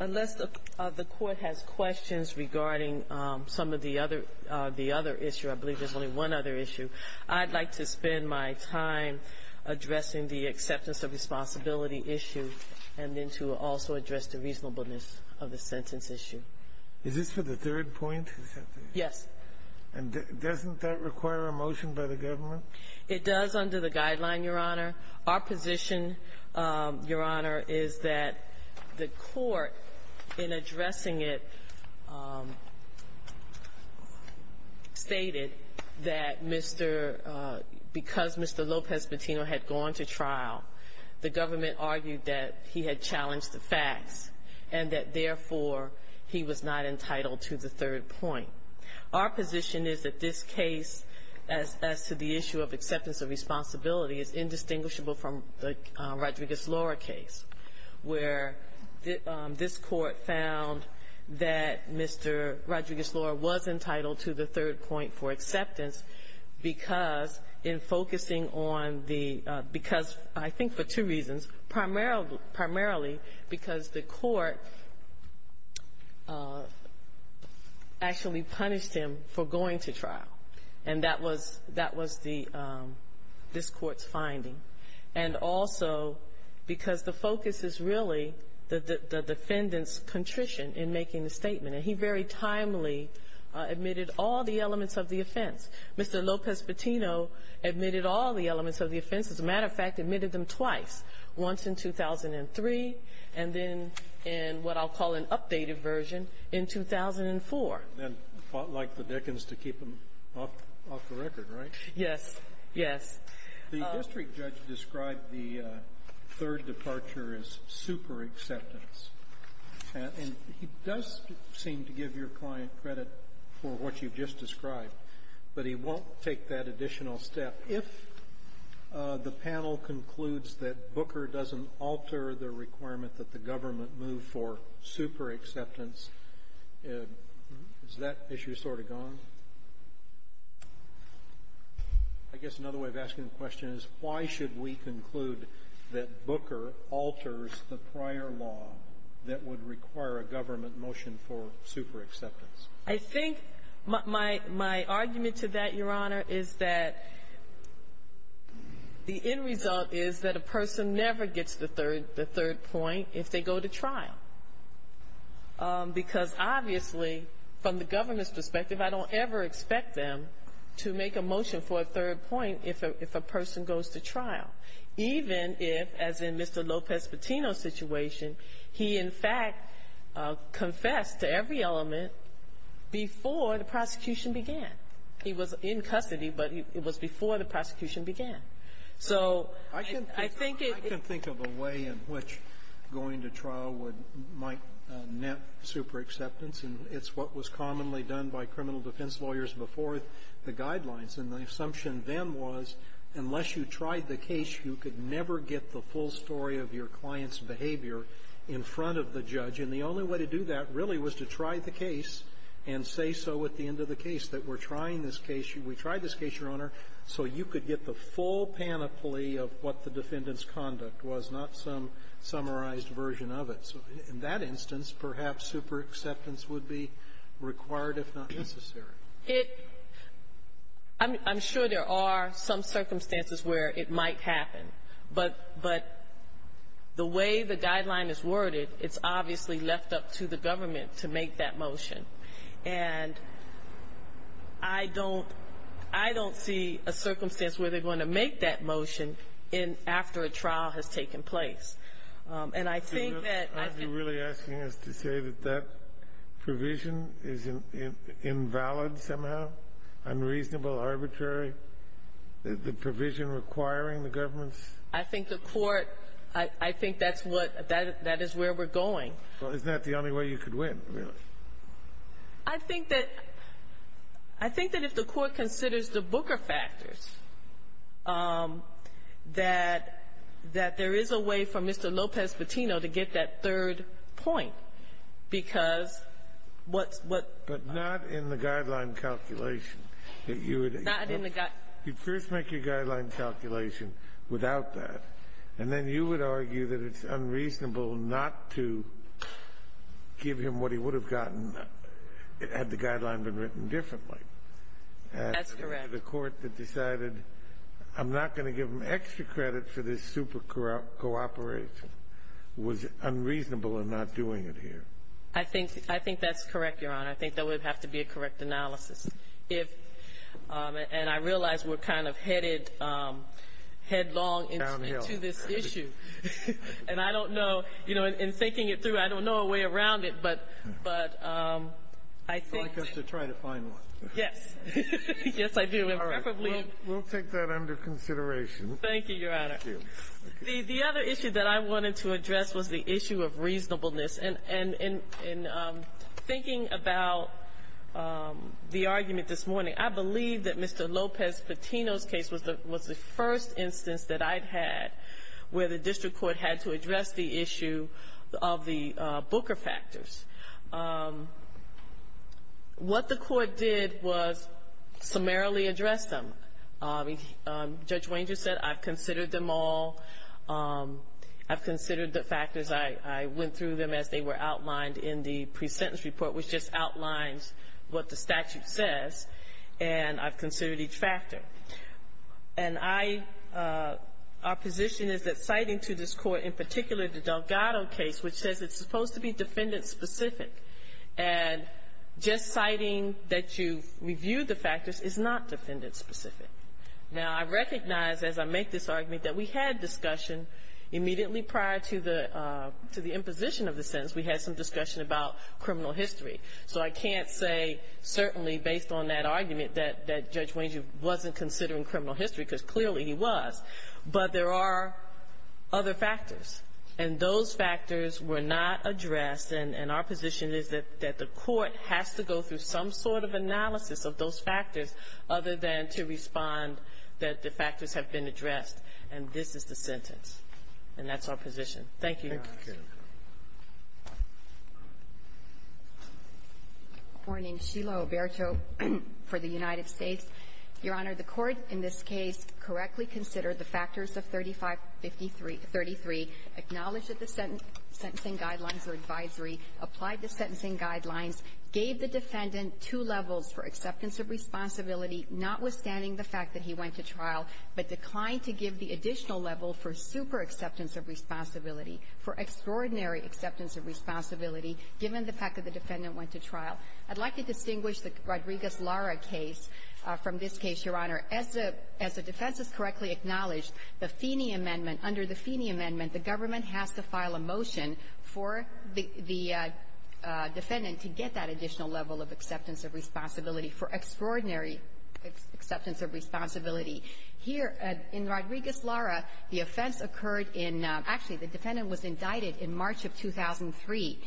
Unless the court has questions regarding some of the other issues, I'd like to spend my time addressing the acceptance of responsibility issue and then to also address the reasonableness of the sentence issue. Is this for the third point? Yes. And doesn't that require a motion by the government? It does under the guideline, Your Honor. Our position, Your Honor, is that the court, in addressing it, stated that because Mr. Lopez Patino had gone to trial, the government argued that he had challenged the facts and that, therefore, he was not entitled to the third point. Our position is that this case as to the issue of acceptance of responsibility is indistinguishable from the Rodriguez-Laura case, where this Court found that Mr. Rodriguez-Laura was entitled to the third point for acceptance because in focusing on the — because I think for two reasons. Primarily because the court actually punished him for going to trial. And that was — that was the — this Court's finding. And also because the focus is really the defendant's contrition in making the statement. And he very timely admitted all the elements of the offense. Mr. Lopez Patino admitted all the elements of the offense. As a matter of fact, admitted them twice, once in 2003 and then in what I'll call an updated version in 2004. And fought like the Dickens to keep him off the record, right? Yes. Yes. The district judge described the third departure as super acceptance. And he does seem to give your client credit for what you've just described, but he won't take that additional step. If the panel concludes that Booker doesn't alter the requirement that the government move for super acceptance, is that issue sort of gone? I guess another way of asking the question is, why should we conclude that Booker alters the prior law that would require a government motion for super acceptance? I think my argument to that, Your Honor, is that the end result is that a person never gets the third point if they go to trial. Because obviously, from the government's perspective, I don't ever expect them to make a motion for a third point if a person goes to trial. Even if, as in Mr. Lopez-Petino's situation, he in fact confessed to every element before the prosecution began. He was in custody, but it was before the prosecution began. So I think it can think of a way in which going to trial would might net super acceptance. And it's what was commonly done by criminal defense lawyers before the guidelines. And the assumption then was, unless you tried the case, you could never get the full story of your client's behavior in front of the judge. And the only way to do that, really, was to try the case and say so at the end of the case, that we're trying this case. We tried this case, Your Honor, so you could get the full panoply of what the defendant's conduct was, not some summarized version of it. So in that instance, perhaps super acceptance would be required, if not necessary. I'm sure there are some circumstances where it might happen. But the way the guideline is worded, it's obviously left up to the government to make that motion. And I don't see a circumstance where they're going to make that motion after a trial has taken place. And I think that I've been ---- Kennedy, are you really asking us to say that that provision is invalid somehow, unreasonable, arbitrary, the provision requiring the government's ---- I think the Court ---- I think that's what ---- that is where we're going. Well, isn't that the only way you could win, really? I think that ---- I think that if the Court considers the Booker factors, that there is a way for Mr. Lopez-Petino to get that third point, because what's ---- But not in the guideline calculation that you would ---- Not in the ---- You'd first make your guideline calculation without that. And then you would argue that it's unreasonable not to give him what he would have gotten had the guideline been written differently. That's correct. The Court that decided I'm not going to give him extra credit for this super cooperation was unreasonable in not doing it here. I think that's correct, Your Honor. I think that would have to be a correct analysis. If ---- And I realize we're kind of headed headlong into this issue. Downhill. And I don't know. You know, in thinking it through, I don't know a way around it. But I think ---- I'd like us to try to find one. Yes. Yes, I do. And preferably ---- All right. We'll take that under consideration. Thank you, Your Honor. Thank you. The other issue that I wanted to address was the issue of reasonableness. And in thinking about the argument this morning, I believe that Mr. Lopez-Petino's case was the first instance that I'd had where the district court had to address the issue of the Booker factors. What the court did was summarily address them. Judge Wanger said, I've considered them all. I've considered the factors. I went through them as they were outlined in the pre-sentence report, which just outlines what the statute says. And I've considered each factor. And I ---- Our position is that citing to this Court, in particular the Delgado case, which says it's supposed to be defendant-specific, and just citing that you've reviewed the factors is not defendant-specific. Now, I recognize, as I make this argument, that we had discussion immediately prior to the imposition of the sentence. We had some discussion about criminal history. So I can't say certainly, based on that argument, that Judge Wanger wasn't considering criminal history, because clearly he was. But there are other factors. And those factors were not addressed. And our position is that the court has to go through some sort of analysis of those factors other than to respond that the factors have been addressed. And this is the sentence. And that's our position. Thank you, Your Honor. Thank you. Good morning. Sheila Oberto for the United States. Your Honor, the Court in this case correctly considered the factors of 3553 33, acknowledged that the sentencing guidelines were advisory, applied the sentencing guidelines, gave the defendant two levels for acceptance of responsibility, notwithstanding the fact that he went to trial, but declined to give the additional level for super acceptance of responsibility, for extraordinary acceptance of responsibility, given the fact that the defendant went to trial. I'd like to distinguish the Rodriguez-Lara case from this case, Your Honor. As the defense has correctly acknowledged, the Feeney Amendment, under the Feeney Amendment, the government has to file a motion for the defendant to get that additional level of acceptance of responsibility, for extraordinary acceptance of responsibility. Here, in Rodriguez-Lara, the offense occurred in – actually, the defendant was indicted in March of 2003,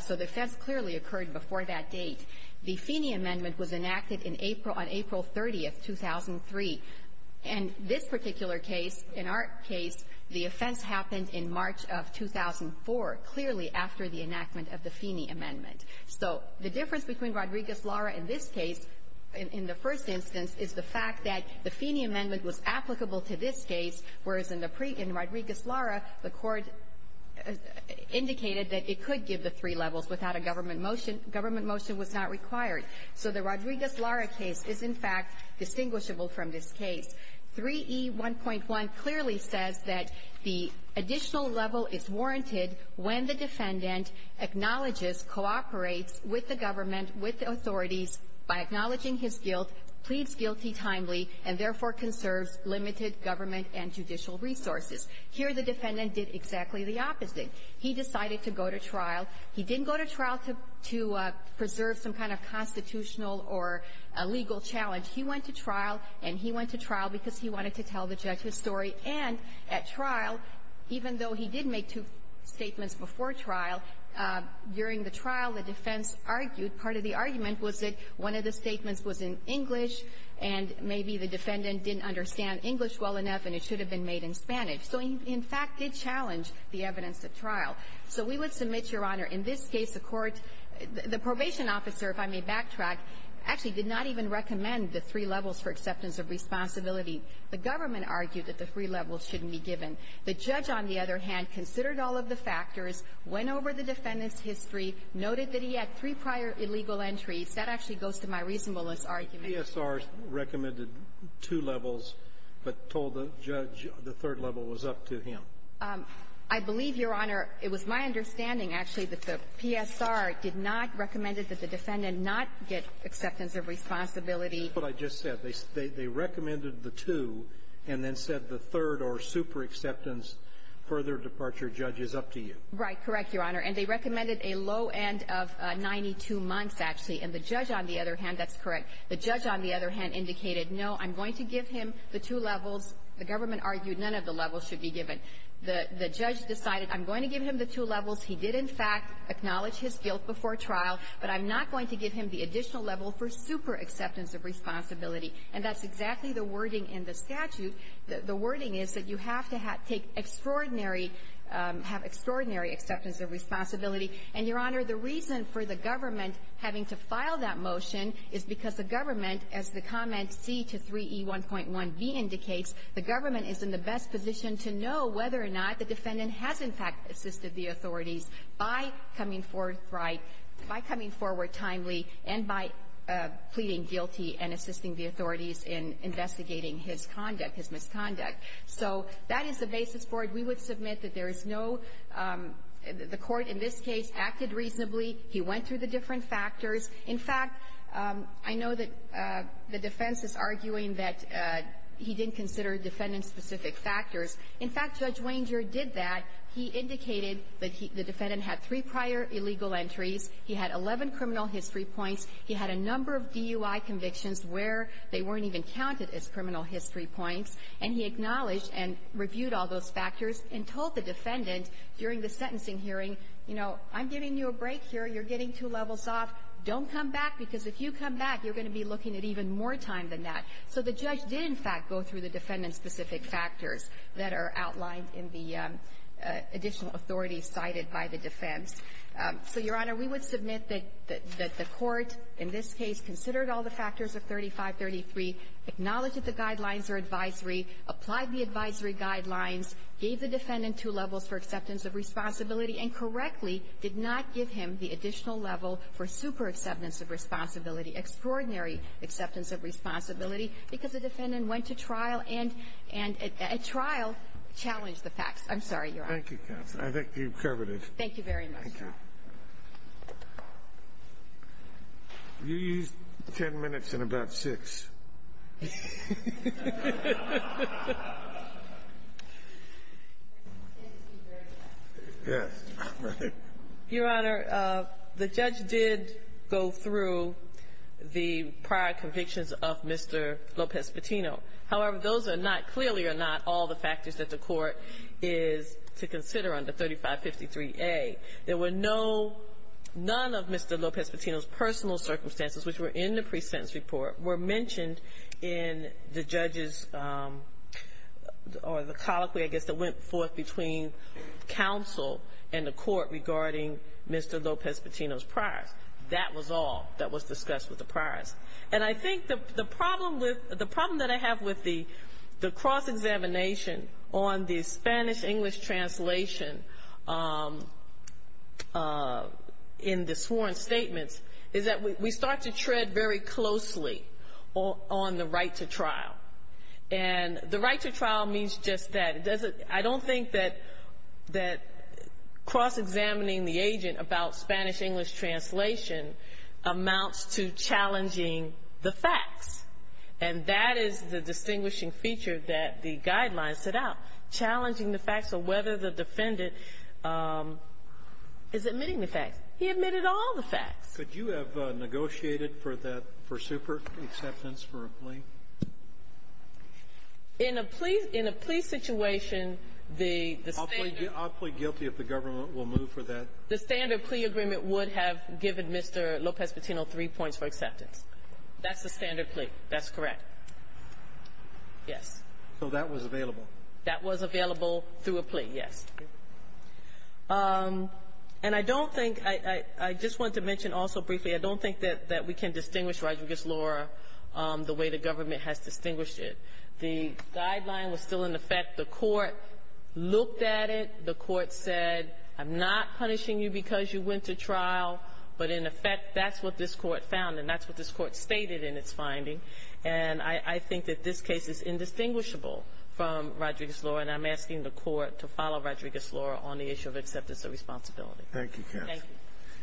so the offense clearly occurred before that date. The Feeney Amendment was enacted in April – on April 30th, 2003. And this particular case, in our case, the offense happened in March of 2004, clearly after the enactment of the Feeney Amendment. So the difference between Rodriguez-Lara in this case, in the first instance, is the fact that the Feeney Amendment was applicable to this case, whereas in the Rodriguez-Lara, the court indicated that it could give the three levels without a government motion. Government motion was not required. So the Rodriguez-Lara case is, in fact, distinguishable from this case. 3E1.1 clearly says that the additional level is warranted when the defendant acknowledges, cooperates with the government, with the authorities, by acknowledging his guilt, pleads guilty timely, and therefore conserves limited government and judicial resources. Here, the defendant did exactly the opposite. He decided to go to trial. He didn't go to trial to preserve some kind of constitutional or legal challenge. He went to trial, and he went to trial because he wanted to tell the judge his story. And at trial, even though he did make two statements before trial, during the trial, the defense argued, part of the argument was that one of the statements was in English, and maybe the defendant didn't understand English well enough and it should have been made in Spanish. So he, in fact, did challenge the evidence at trial. So we would submit, Your Honor, in this case, the court, the probation officer, if I may backtrack, actually did not even recommend the three levels for acceptance of responsibility. The government argued that the three levels shouldn't be given. The judge, on the other hand, considered all of the factors, went over the defendant's history, noted that he had three prior illegal entries. That actually goes to my reasonableness argument. The PSR recommended two levels but told the judge the third level was up to him. I believe, Your Honor, it was my understanding, actually, that the PSR did not recommend it, that the defendant not get acceptance of responsibility. That's what I just said. They recommended the two and then said the third or super acceptance, further departure, judge, is up to you. Right. Correct, Your Honor. And they recommended a low end of 92 months, actually. And the judge, on the other hand, that's correct. The judge, on the other hand, indicated, no, I'm going to give him the two levels. The government argued none of the levels should be given. The judge decided I'm going to give him the two levels. He did, in fact, acknowledge his guilt before trial, but I'm not going to give him the additional level for super acceptance of responsibility. And that's exactly the wording in the statute. The wording is that you have to take extraordinary, have extraordinary acceptance of responsibility. And, Your Honor, the reason for the government having to file that motion is because the government, as the comment C to 3E1.1b indicates, the government is in the best position to know whether or not the defendant has, in fact, assisted the authorities by coming forthright, by coming forward timely, and by pleading guilty and assisting the authorities in investigating his conduct, his misconduct. So that is the basis for it. We would submit that there is no the court in this case acted reasonably. He went through the different factors. In fact, I know that the defense is arguing that he didn't consider defendant-specific factors. In fact, Judge Wanger did that. He indicated that the defendant had three prior illegal entries. He had 11 criminal history points. He had a number of DUI convictions where they weren't even counted as criminal history points. And he acknowledged and reviewed all those factors and told the defendant during the sentencing hearing, you know, I'm giving you a break here. You're getting two levels off. Don't come back, because if you come back, you're going to be looking at even more time than that. So the judge did, in fact, go through the defendant-specific factors that are outlined in the additional authorities cited by the defense. So, Your Honor, we would submit that the court in this case considered all the factors of 3533, acknowledged that the guidelines are advisory, applied the advisory guidelines, gave the defendant two levels for acceptance of responsibility, and correctly did not give him the additional level for superexceptance of responsibility, extraordinary acceptance of responsibility, because the defendant went to trial and at trial challenged the facts. I'm sorry, Your Honor. Thank you, counsel. I think you've covered it. Thank you very much. Thank you. You used ten minutes and about six. Your Honor, the judge did go through the prior convictions of Mr. Lopez-Petino. However, those are not, clearly are not all the factors that the court is to consider under 3553A. There were no, none of Mr. Lopez-Petino's personal circumstances which were in the pre-sentence report were mentioned in the pre-sentence report. They were not mentioned in the judge's, or the colloquy, I guess, that went forth between counsel and the court regarding Mr. Lopez-Petino's prior. That was all that was discussed with the priors. And I think the problem with, the problem that I have with the cross-examination on the Spanish-English translation in the sworn statements is that we start to tread very closely on the right to trial. And the right to trial means just that. It doesn't, I don't think that cross-examining the agent about Spanish-English translation amounts to challenging the facts. And that is the distinguishing feature that the guidelines set out, challenging the facts of whether the defendant is admitting the facts. He admitted all the facts. Could you have negotiated for that, for super acceptance for a plea? In a plea, in a plea situation, the standard ---- I'll plead guilty if the government will move for that. The standard plea agreement would have given Mr. Lopez-Petino three points for acceptance. That's the standard plea. That's correct. Yes. So that was available. That was available through a plea, yes. And I don't think ---- I just want to mention also briefly, I don't think that we can distinguish Rodriguez-Laura the way the government has distinguished it. The guideline was still in effect. The Court looked at it. The Court said, I'm not punishing you because you went to trial, but in effect, that's what this Court found, and that's what this Court stated in its finding. And I think that this case is indistinguishable from Rodriguez-Laura, and I'm asking the Court to follow Rodriguez-Laura on the issue of acceptance of responsibility. Thank you, counsel. Thank you.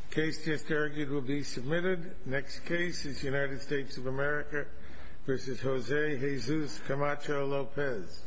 The case just argued will be submitted. The next case is United States of America v. Jose Jesus Camacho Lopez.